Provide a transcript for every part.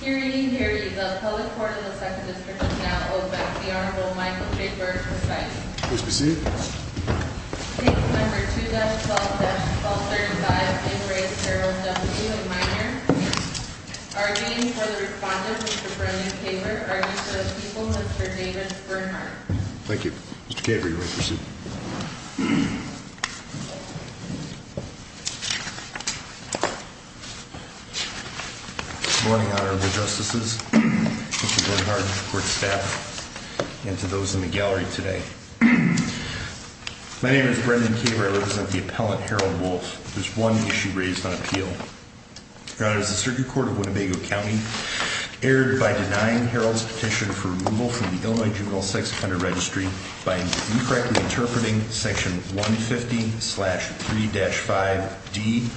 Hearing, hearing the Public Court of the 2nd District is now open. The Honorable Michael J. Burdick presides. Please be seated. Table number 2-12-1235 in re Harold W. Miner. Arguing for the respondent Mr. Brendan Kaler, argues for the people Mr. David Bernhardt. Thank you. Mr. Kaler you are to proceed. Good morning Honorable Justices, Mr. Bernhardt, Court staff, and to those in the gallery today. My name is Brendan Kaler. I represent the appellant Harold W. There is one issue raised on appeal. The Circuit Court of Winnebago County erred by denying Harold's petition for removal from the Illinois Juvenile Sex Offender Registry by incorrectly interpreting section 150-3-5D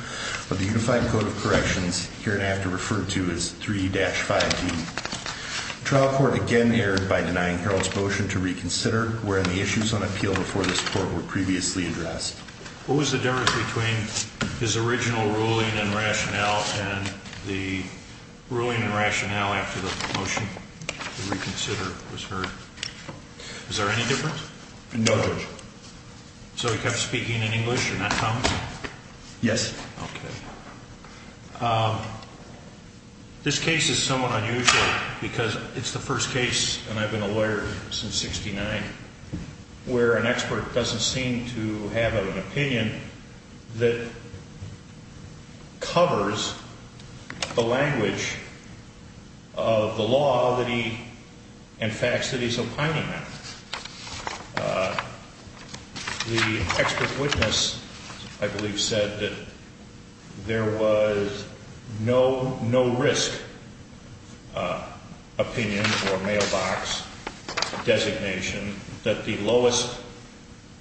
of the Unified Code of Corrections, here and after referred to as 3-5D. The trial court again erred by denying Harold's motion to reconsider, wherein the issues on appeal before this court were previously addressed. What was the difference between his original ruling and rationale and the ruling and rationale after the motion to reconsider was heard? Is there any difference? No Judge. So he kept speaking in English in that comment? Yes. This case is somewhat unusual because it's the first case, and I've been a lawyer since 1969, where an expert doesn't seem to have an opinion that covers the language of the law and facts that he's opining on. The expert witness, I believe, said that there was no risk opinion or mailbox designation, that the lowest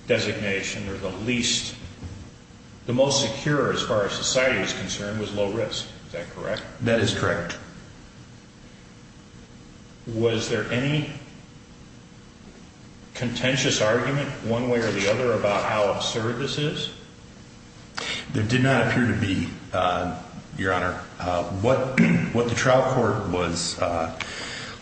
designation or the least, the most secure as far as society is concerned, was low risk. Is that correct? That is correct. Was there any contentious argument, one way or the other, about how absurd this is? There did not appear to be, Your Honor. What the trial court was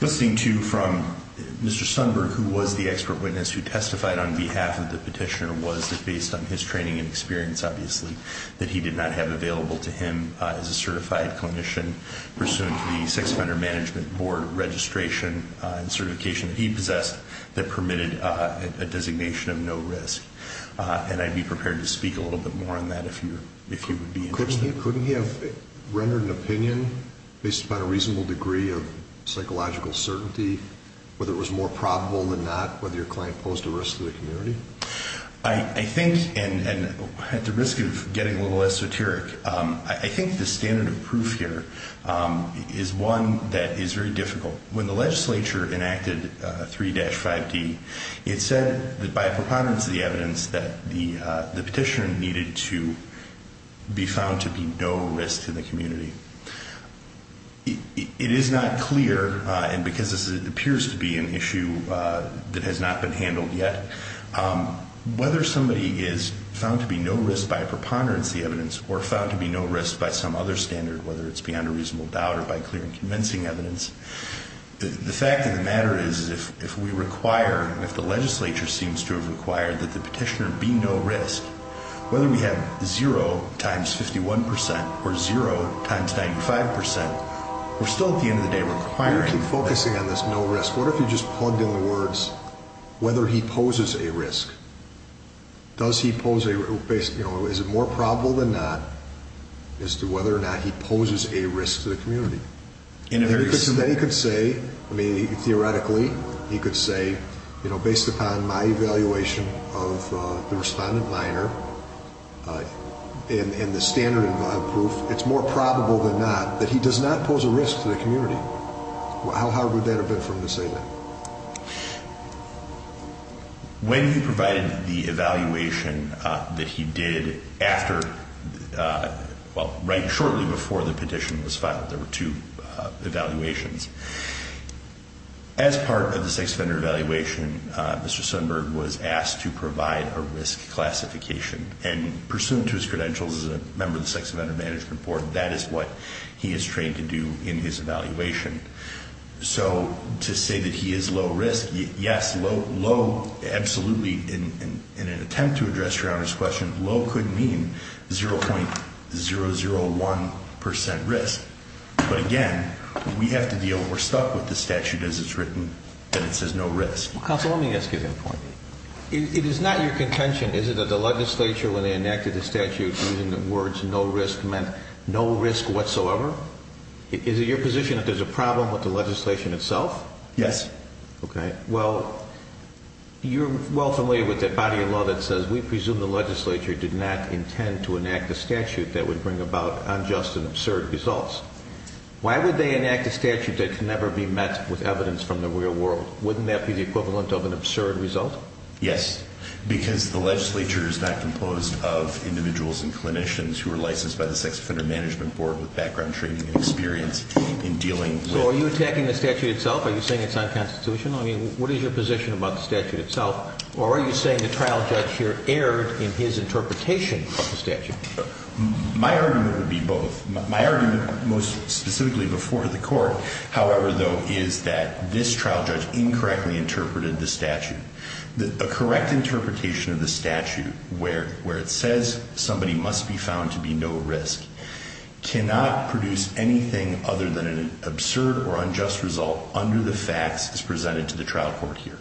listening to from Mr. Sundberg, who was the expert witness who testified on behalf of the petitioner, was that based on his training and experience, obviously, that he did not have available to him as a certified clinician, pursuant to the Sex Offender Management Board registration and certification that he possessed, that permitted a designation of no risk. And I'd be prepared to speak a little bit more on that if you would be interested. Couldn't he have rendered an opinion based upon a reasonable degree of psychological certainty, whether it was more probable than not, whether your client posed a risk to the community? I think, and at the risk of getting a little esoteric, I think the standard of proof here is one that is very difficult. When the legislature enacted 3-5D, it said that by a preponderance of the evidence, that the petitioner needed to be found to be no risk to the community. It is not clear, and because this appears to be an issue that has not been handled yet, whether somebody is found to be no risk by a preponderance of the evidence or found to be no risk by some other standard, whether it's beyond a reasonable doubt or by clear and convincing evidence, the fact of the matter is if we require, if the legislature seems to have required that the petitioner be no risk, whether we have 0 times 51 percent or 0 times 95 percent, we're still at the end of the day requiring. You keep focusing on this no risk. What if you just plugged in the words, whether he poses a risk? Does he pose a risk, is it more probable than not, as to whether or not he poses a risk to the community? Theoretically, he could say, based upon my evaluation of the respondent minor and the standard of proof, it's more probable than not that he does not pose a risk to the community. How hard would that have been for him to say that? When he provided the evaluation that he did after, well, right shortly before the petition was filed, there were two evaluations. As part of the sex offender evaluation, Mr. Sundberg was asked to provide a risk classification, and pursuant to his credentials as a member of the Sex Offender Management Board, that is what he is trained to do in his evaluation. So to say that he is low risk, yes, low, absolutely, in an attempt to address Your Honor's question, low could mean 0.001 percent risk. But again, we have to deal, we're stuck with the statute as it's written, that it says no risk. Counsel, let me ask you a point. It is not your contention, is it, that the legislature, when they enacted the statute, using the words no risk meant no risk whatsoever? Is it your position that there's a problem with the legislation itself? Yes. Okay. Well, you're well familiar with that body of law that says we presume the legislature did not intend to enact a statute that would bring about unjust and absurd results. Why would they enact a statute that can never be met with evidence from the real world? Wouldn't that be the equivalent of an absurd result? Yes, because the legislature is not composed of individuals and clinicians who are licensed by the Sex Offender Management Board with background training and experience in dealing with... So are you attacking the statute itself? Are you saying it's unconstitutional? I mean, what is your position about the statute itself? Or are you saying the trial judge here erred in his interpretation of the statute? My argument would be both. My argument, most specifically before the court, however, though, is that this trial judge incorrectly interpreted the statute. A correct interpretation of the statute where it says somebody must be found to be no risk cannot produce anything other than an absurd or unjust result under the facts as presented to the trial court here.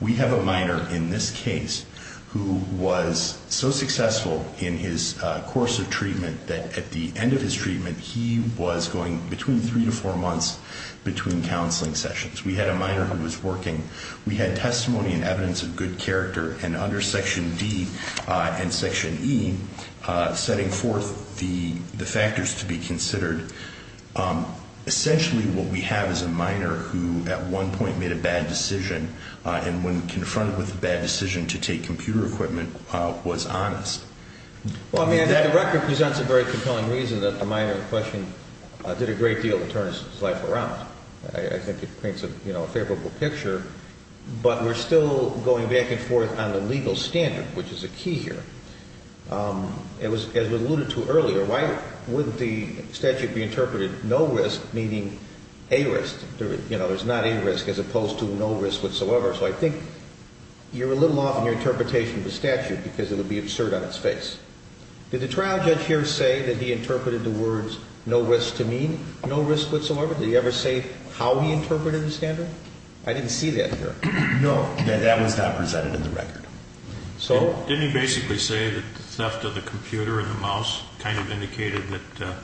We have a minor in this case who was so successful in his course of treatment that at the end of his treatment, he was going between three to four months between counseling sessions. We had a minor who was working. We had testimony and evidence of good character. And under Section D and Section E, setting forth the factors to be considered, essentially what we have is a minor who at one point made a bad decision and when confronted with a bad decision to take computer equipment, was honest. Well, I mean, that record presents a very compelling reason that the minor in question did a great deal to turn his life around. I think it paints a favorable picture, but we're still going back and forth on the legal standard, which is a key here. As was alluded to earlier, why wouldn't the statute be interpreted no risk, meaning a risk? There's not a risk as opposed to no risk whatsoever. So I think you're a little off in your interpretation of the statute because it would be absurd on its face. Did the trial judge here say that he interpreted the words no risk to mean no risk whatsoever? Did he ever say how he interpreted the standard? I didn't see that here. No, that was not presented in the record. Didn't he basically say that the theft of the computer and the mouse kind of indicated that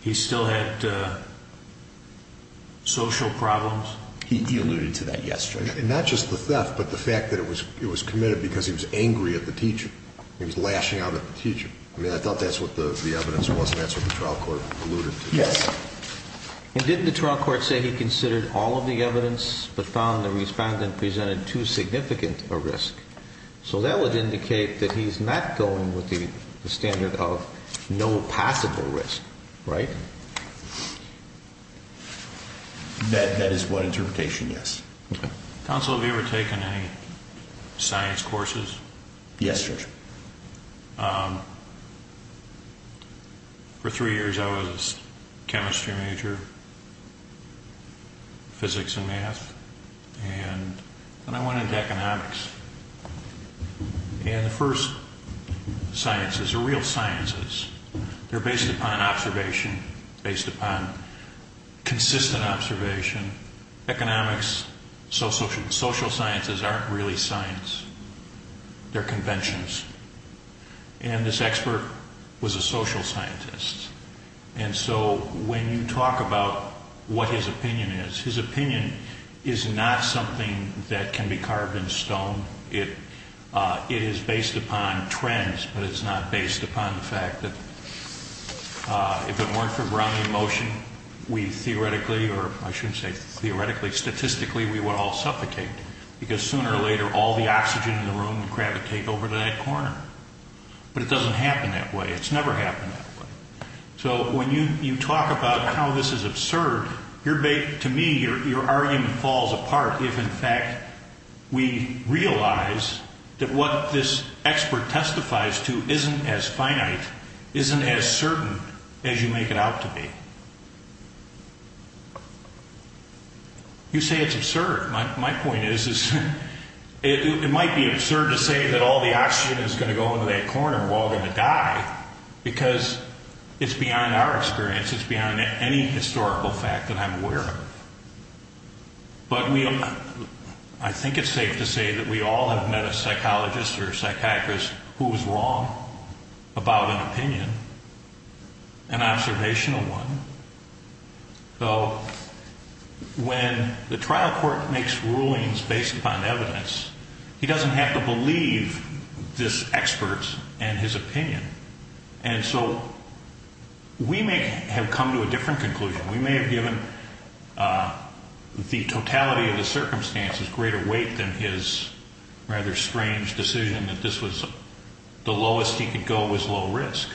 he still had social problems? He alluded to that yesterday. Not just the theft, but the fact that it was committed because he was angry at the teacher. He was lashing out at the teacher. I mean, I thought that's what the evidence was and that's what the trial court alluded to. Yes. And didn't the trial court say he considered all of the evidence but found the respondent presented too significant a risk? So that would indicate that he's not going with the standard of no possible risk, right? That is what interpretation, yes. Counsel, have you ever taken any science courses? Yes, sir. For three years I was a chemistry major, physics and math, and then I went into economics. And the first sciences are real sciences. They're based upon observation, based upon consistent observation. Economics, social sciences aren't really science. They're conventions. And this expert was a social scientist. And so when you talk about what his opinion is, his opinion is not something that can be carved in stone. It is based upon trends, but it's not based upon the fact that if it weren't for Brownian motion, we theoretically, or I shouldn't say theoretically, statistically, we would all suffocate. Because sooner or later, all the oxygen in the room would gravitate over to that corner. But it doesn't happen that way. It's never happened that way. So when you talk about how this is absurd, to me, your argument falls apart if, in fact, we realize that what this expert testifies to isn't as finite, isn't as certain as you make it out to be. You say it's absurd. My point is, it might be absurd to say that all the oxygen is going to go into that corner and we're all going to die, because it's beyond our experience. It's beyond any historical fact that I'm aware of. But I think it's safe to say that we all have met a psychologist or a psychiatrist who was wrong about an opinion, an observational one. So when the trial court makes rulings based upon evidence, he doesn't have to believe this expert and his opinion. And so we may have come to a different conclusion. We may have given the totality of the circumstances greater weight than his rather strange decision that this was the lowest he could go was low risk.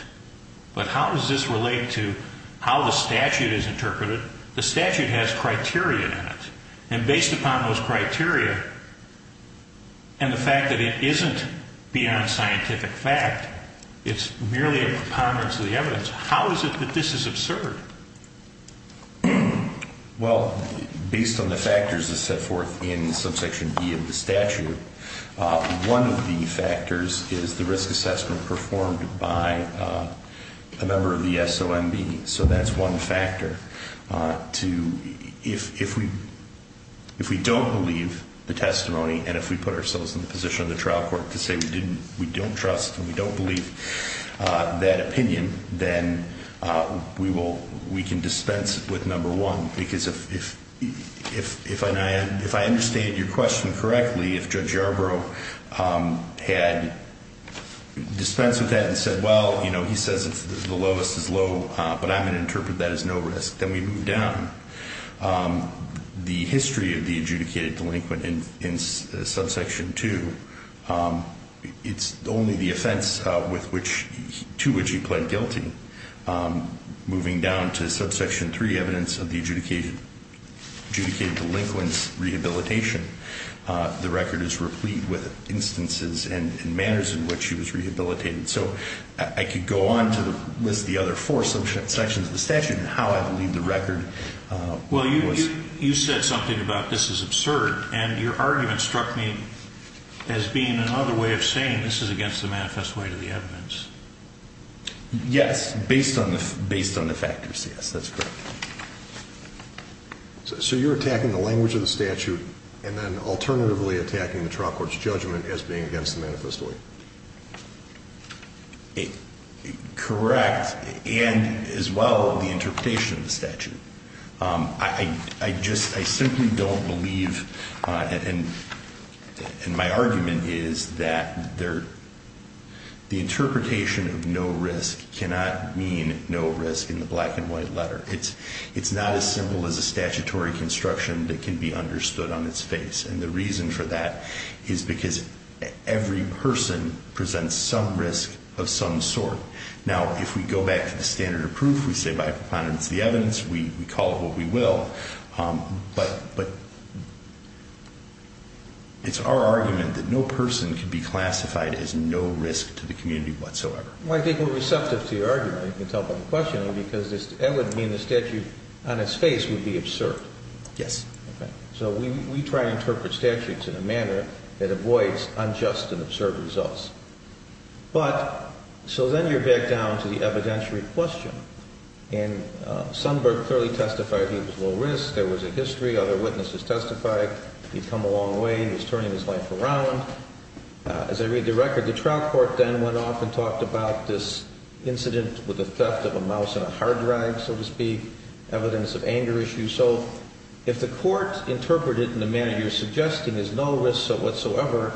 But how does this relate to how the statute is interpreted? The statute has criteria in it. And based upon those criteria and the fact that it isn't beyond scientific fact, it's merely a preponderance of the evidence, how is it that this is absurd? Well, based on the factors that's set forth in subsection B of the statute, one of the factors is the risk assessment performed by a member of the SOMB. So that's one factor. If we don't believe the testimony and if we put ourselves in the position of the trial court to say we don't trust and we don't believe that opinion, then we can dispense with number one. Because if I understand your question correctly, if Judge Yarbrough had dispensed with that and said, well, you know, he says the lowest is low, but I'm going to interpret that as no risk, then we move down. The history of the adjudicated delinquent in subsection two, it's only the offense to which he pled guilty. And moving down to subsection three, evidence of the adjudicated delinquent's rehabilitation, the record is replete with instances and manners in which he was rehabilitated. So I could go on to list the other four subsections of the statute and how I believe the record was. Well, you said something about this is absurd, and your argument struck me as being another way of saying this is against the manifest weight of the evidence. Yes, based on the based on the factors. Yes, that's correct. So you're attacking the language of the statute and then alternatively attacking the trial court's judgment as being against the manifest way. It correct. And as well, the interpretation of the statute, I just I simply don't believe. And my argument is that they're the interpretation of no risk cannot mean no risk in the black and white letter. It's it's not as simple as a statutory construction that can be understood on its face. And the reason for that is because every person presents some risk of some sort. Now, if we go back to the standard of proof, we say by preponderance of the evidence, we call it what we will. But but. It's our argument that no person can be classified as no risk to the community whatsoever. I think we're receptive to your argument. You can tell by the questioning, because that would mean the statute on its face would be absurd. Yes. So we try to interpret statutes in a manner that avoids unjust and absurd results. But so then you're back down to the evidentiary question. And Sundberg clearly testified he was low risk. There was a history. Other witnesses testified he'd come a long way. He was turning his life around. As I read the record, the trial court then went off and talked about this incident with the theft of a mouse and a hard drive, so to speak. Evidence of anger issue. So if the court interpreted in the manner you're suggesting is no risk whatsoever,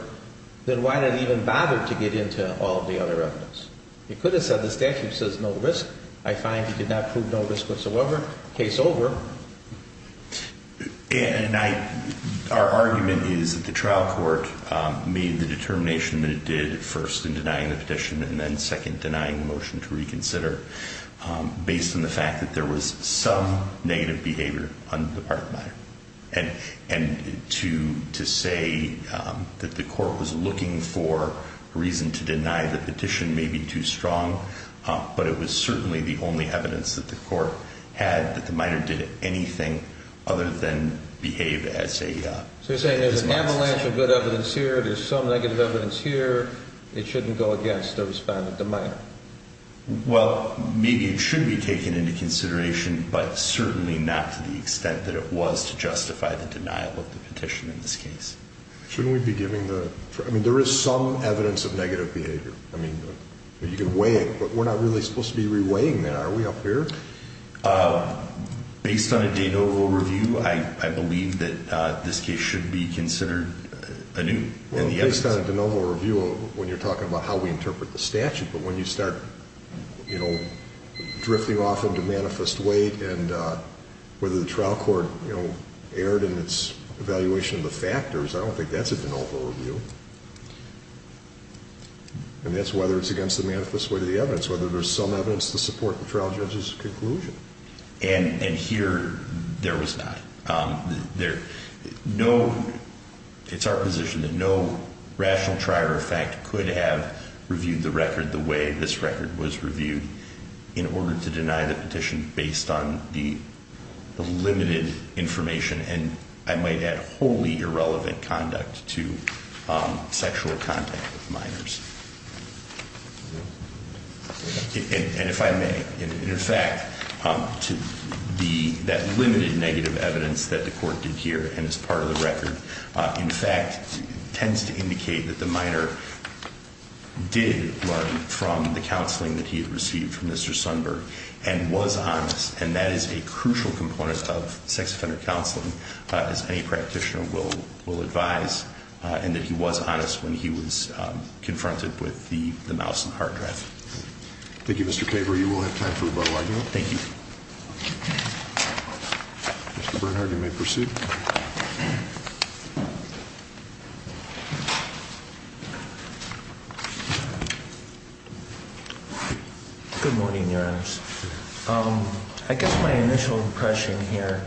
then why did it even bother to get into all of the other evidence? It could have said the statute says no risk. I find he did not prove no risk whatsoever. Case over. And I our argument is that the trial court made the determination that it did first in denying the petition and then second denying the motion to reconsider based on the fact that there was some negative behavior. And and to to say that the court was looking for a reason to deny the petition may be too strong. But it was certainly the only evidence that the court had that the minor did anything other than behave as a saying there's an avalanche of good evidence here. There's some negative evidence here. It shouldn't go against the respondent. Well, maybe it should be taken into consideration, but certainly not to the extent that it was to justify the denial of the petition in this case. Shouldn't we be giving the I mean, there is some evidence of negative behavior. I mean, you can weigh it, but we're not really supposed to be reweighing that. Are we up here based on a de novo review? I believe that this case should be considered a new and the evidence on a de novo review when you're talking about how we interpret the statute. But when you start drifting off into manifest weight and whether the trial court erred in its evaluation of the factors, I don't think that's a de novo review. And that's whether it's against the manifest way to the evidence, whether there's some evidence to support the trial judge's conclusion. And here there was not there. No, it's our position that no rational trier of fact could have reviewed the record the way this record was reviewed in order to deny the petition based on the limited information. And I might add wholly irrelevant conduct to sexual contact with minors. And if I may, in fact, to be that limited negative evidence that the court did here and as part of the record, in fact, tends to indicate that the minor did learn from the counseling that he had received from Mr. Sundberg and was honest. And that is a crucial component of sex offender counseling as any practitioner will advise. And that he was honest when he was confronted with the mouse and the hard drive. Thank you, Mr. Caver. You will have time for rebuttal, I know. Thank you. Mr. Bernhardt, you may proceed. Good morning, Your Honors. I guess my initial impression here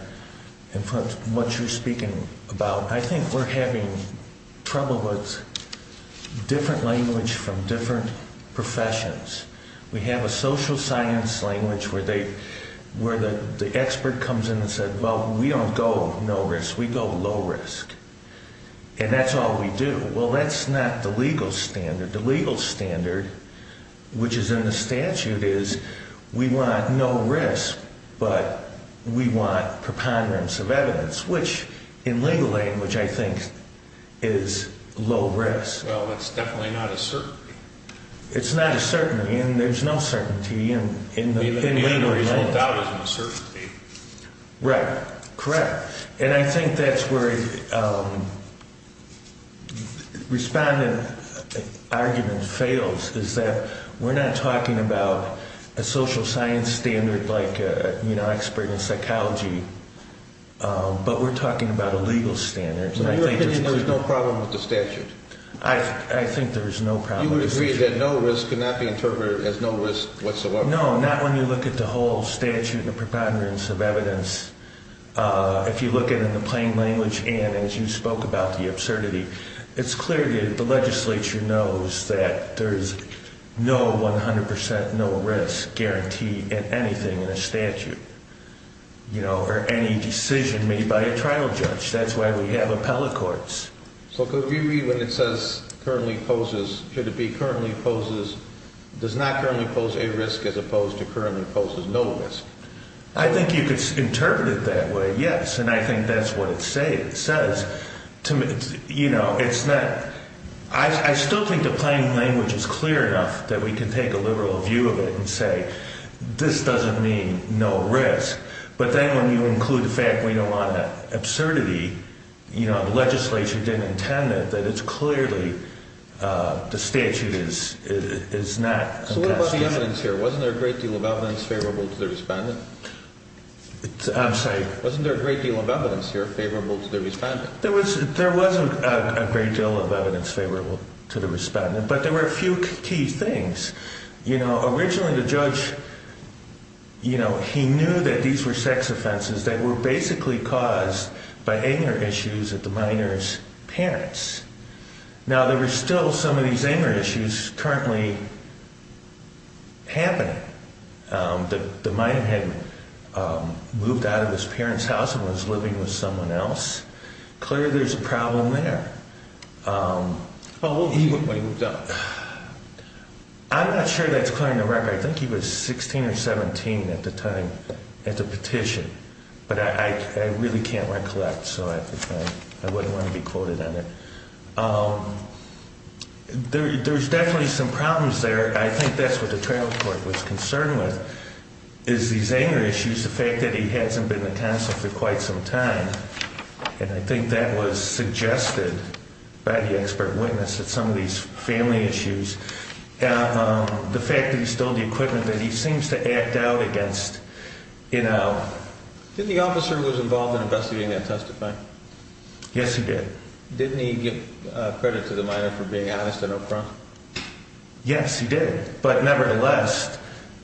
in front of what you're speaking about, I think we're having trouble with different language from different professions. We have a social science language where the expert comes in and says, well, we don't go no risk, we go low risk. And that's all we do. Well, that's not the legal standard. The legal standard, which is in the statute, is we want no risk, but we want preponderance of evidence, which in legal language I think is low risk. Well, that's definitely not a certainty. It's not a certainty. And there's no certainty in legal language. Without a certainty. Right. Correct. And I think that's where a respondent argument fails, is that we're not talking about a social science standard like an expert in psychology, but we're talking about a legal standard. In your opinion, there's no problem with the statute? I think there's no problem with the statute. You would agree that no risk cannot be interpreted as no risk whatsoever? No, not when you look at the whole statute and preponderance of evidence. If you look at it in the plain language and as you spoke about the absurdity, it's clear that the legislature knows that there's no 100 percent no risk guarantee in anything in a statute. Or any decision made by a trial judge. That's why we have appellate courts. So could we read when it says currently poses, should it be currently poses, does not currently pose a risk as opposed to currently poses no risk? I think you could interpret it that way, yes. And I think that's what it says. You know, it's not, I still think the plain language is clear enough that we can take a liberal view of it and say this doesn't mean no risk. But then when you include the fact we don't want that absurdity, you know, the legislature didn't intend it, that it's clearly, the statute is not. So what about the evidence here? Wasn't there a great deal of evidence favorable to the respondent? I'm sorry. Wasn't there a great deal of evidence here favorable to the respondent? There was a great deal of evidence favorable to the respondent, but there were a few key things. You know, originally the judge, you know, he knew that these were sex offenses that were basically caused by anger issues at the minor's parents. Now there were still some of these anger issues currently happening. The minor had moved out of his parents' house and was living with someone else. Clearly there's a problem there. How old was he when he moved out? I'm not sure that's clear on the record. I think he was 16 or 17 at the time at the petition. But I really can't recollect. So I wouldn't want to be quoted on it. There's definitely some problems there. I think that's what the trial court was concerned with is these anger issues, the fact that he hasn't been in counsel for quite some time. And I think that was suggested by the expert witness that some of these family issues, the fact that he stole the equipment, that he seems to act out against, you know. Didn't the officer who was involved in investigating that testify? Yes, he did. Didn't he give credit to the minor for being honest and upfront? Yes, he did. But nevertheless,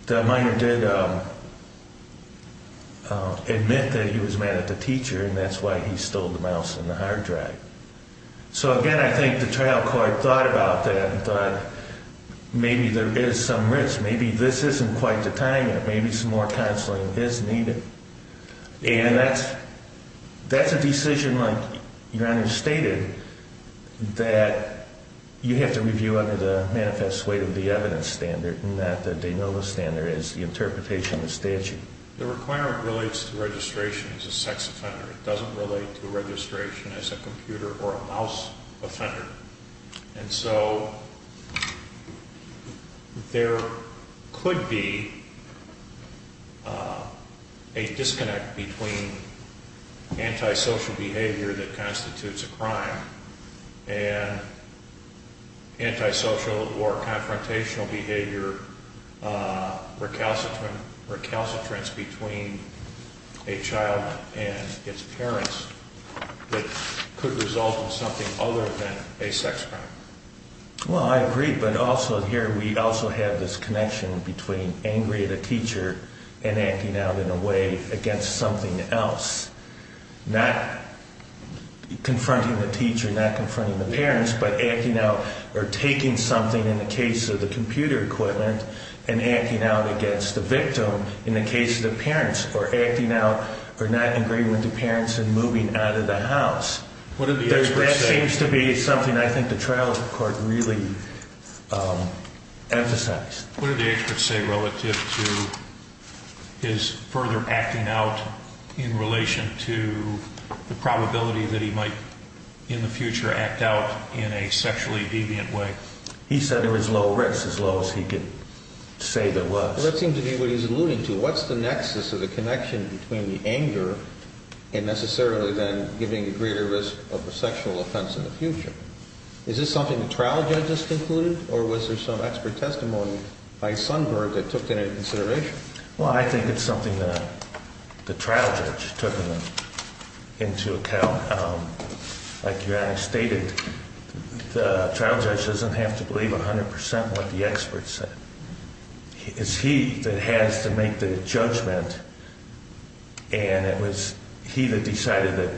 the minor did admit that he was mad at the teacher and that's why he stole the mouse and the hard drive. So again, I think the trial court thought about that and thought maybe there is some risk. Maybe this isn't quite the time yet. Maybe some more counseling is needed. And that's a decision, like Your Honor stated, that you have to review under the manifest weight of the evidence standard and not the de novo standard as the interpretation of the statute. The requirement relates to registration as a sex offender. It doesn't relate to registration as a computer or a mouse offender. And so there could be a disconnect between antisocial behavior that constitutes a crime and antisocial or confrontational behavior recalcitrance between a child and its parents that could result in something other than a crime. Well, I agree. But also here we also have this connection between angry at a teacher and acting out in a way against something else. Not confronting the teacher, not confronting the parents, but acting out or taking something in the case of the computer equivalent and acting out against the victim in the case of the parents or acting out or not agreeing with the parents and moving out of the house. That seems to be something I think the trial court really emphasized. What did the experts say relative to his further acting out in relation to the probability that he might in the future act out in a sexually deviant way? He said there was low risk, as low as he could say there was. Well, that seems to be what he's alluding to. What's the nexus of the connection between the anger and necessarily then giving a greater risk of a sexual offense in the future? Is this something the trial judges concluded or was there some expert testimony by Sundberg that took that into consideration? Well, I think it's something that the trial judge took into account. Like Yannick stated, the trial judge doesn't have to believe 100% what the experts said. It's he that has to make the judgment and it was he that decided that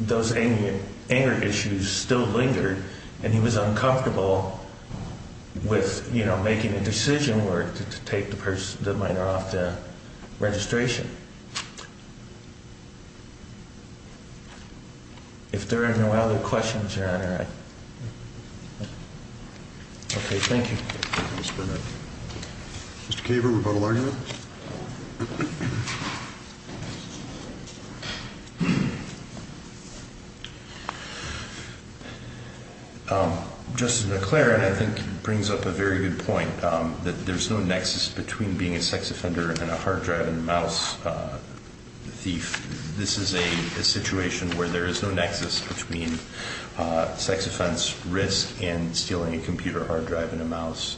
those anger issues still lingered and he was uncomfortable with, you know, making a decision where to take the minor off the registration. If there are no other questions, Your Honor. Okay, thank you. Mr. Kaver, rebuttal argument? Justice McClaren, I think, brings up a very good point that there's no nexus between being a sex offender and a hard drive and a mouse thief. This is a situation where there is no nexus between sex offense risk and stealing a computer hard drive and a mouse.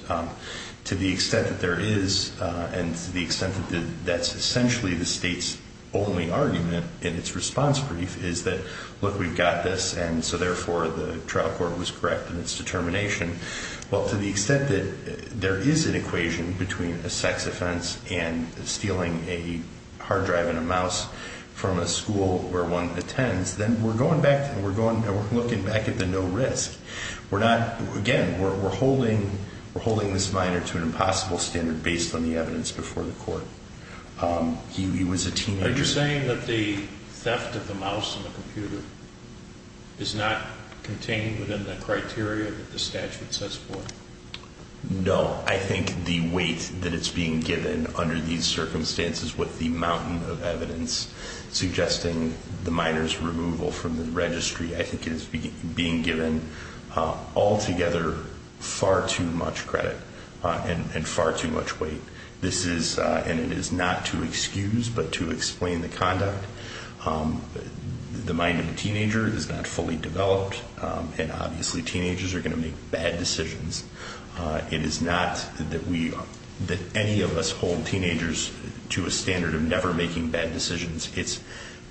To the extent that there is and to the extent that that's essentially the state's only argument in its response brief is that, look, we've got this and so therefore the trial court was correct in its determination. Well, to the extent that there is an equation between a sex offense and stealing a hard drive and a mouse from a school where one attends, then we're going back and we're looking back at the no risk. We're not, again, we're holding this minor to an impossible standard based on the evidence before the court. He was a teenager. Are you saying that the theft of the mouse and the computer is not contained within the criteria that the statute says for? No, I think the weight that it's being given under these circumstances with the mountain of evidence suggesting the minor's removal from the registry, I think is being given altogether far too much credit and far too much weight. This is and it is not to excuse, but to explain the conduct. The mind of a teenager is not fully developed and obviously teenagers are going to make bad decisions. It is not that we that any of us hold teenagers to a standard of never making bad decisions. It's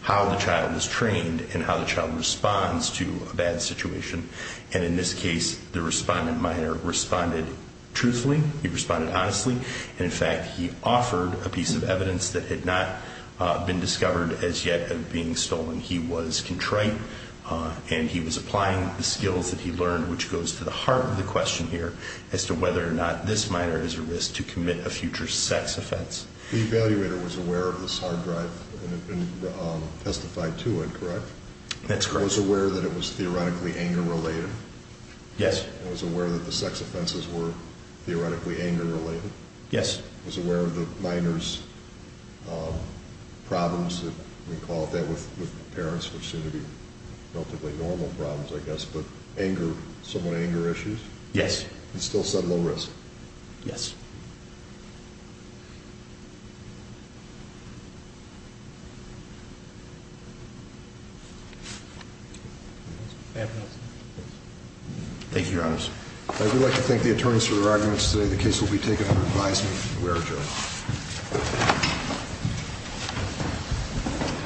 how the child is trained and how the child responds to a bad situation. And in this case, the respondent minor responded truthfully. He responded honestly. And in fact, he offered a piece of evidence that had not been discovered as yet of being stolen. He was contrite and he was applying the skills that he learned, which goes to the heart of the question here, as to whether or not this minor is at risk to commit a future sex offense. The evaluator was aware of this hard drive and testified to it, correct? That's correct. Was aware that it was theoretically anger related? Yes. And was aware that the sex offenses were theoretically anger related? Yes. Was aware of the minor's problems, we call it that, with parents, which seem to be relatively normal problems, I guess, but anger, somewhat anger issues? Yes. And still said low risk? Yes. Thank you, Your Honors. I would like to thank the attorneys for their arguments today. The case will be taken under advisement from the WERA jury.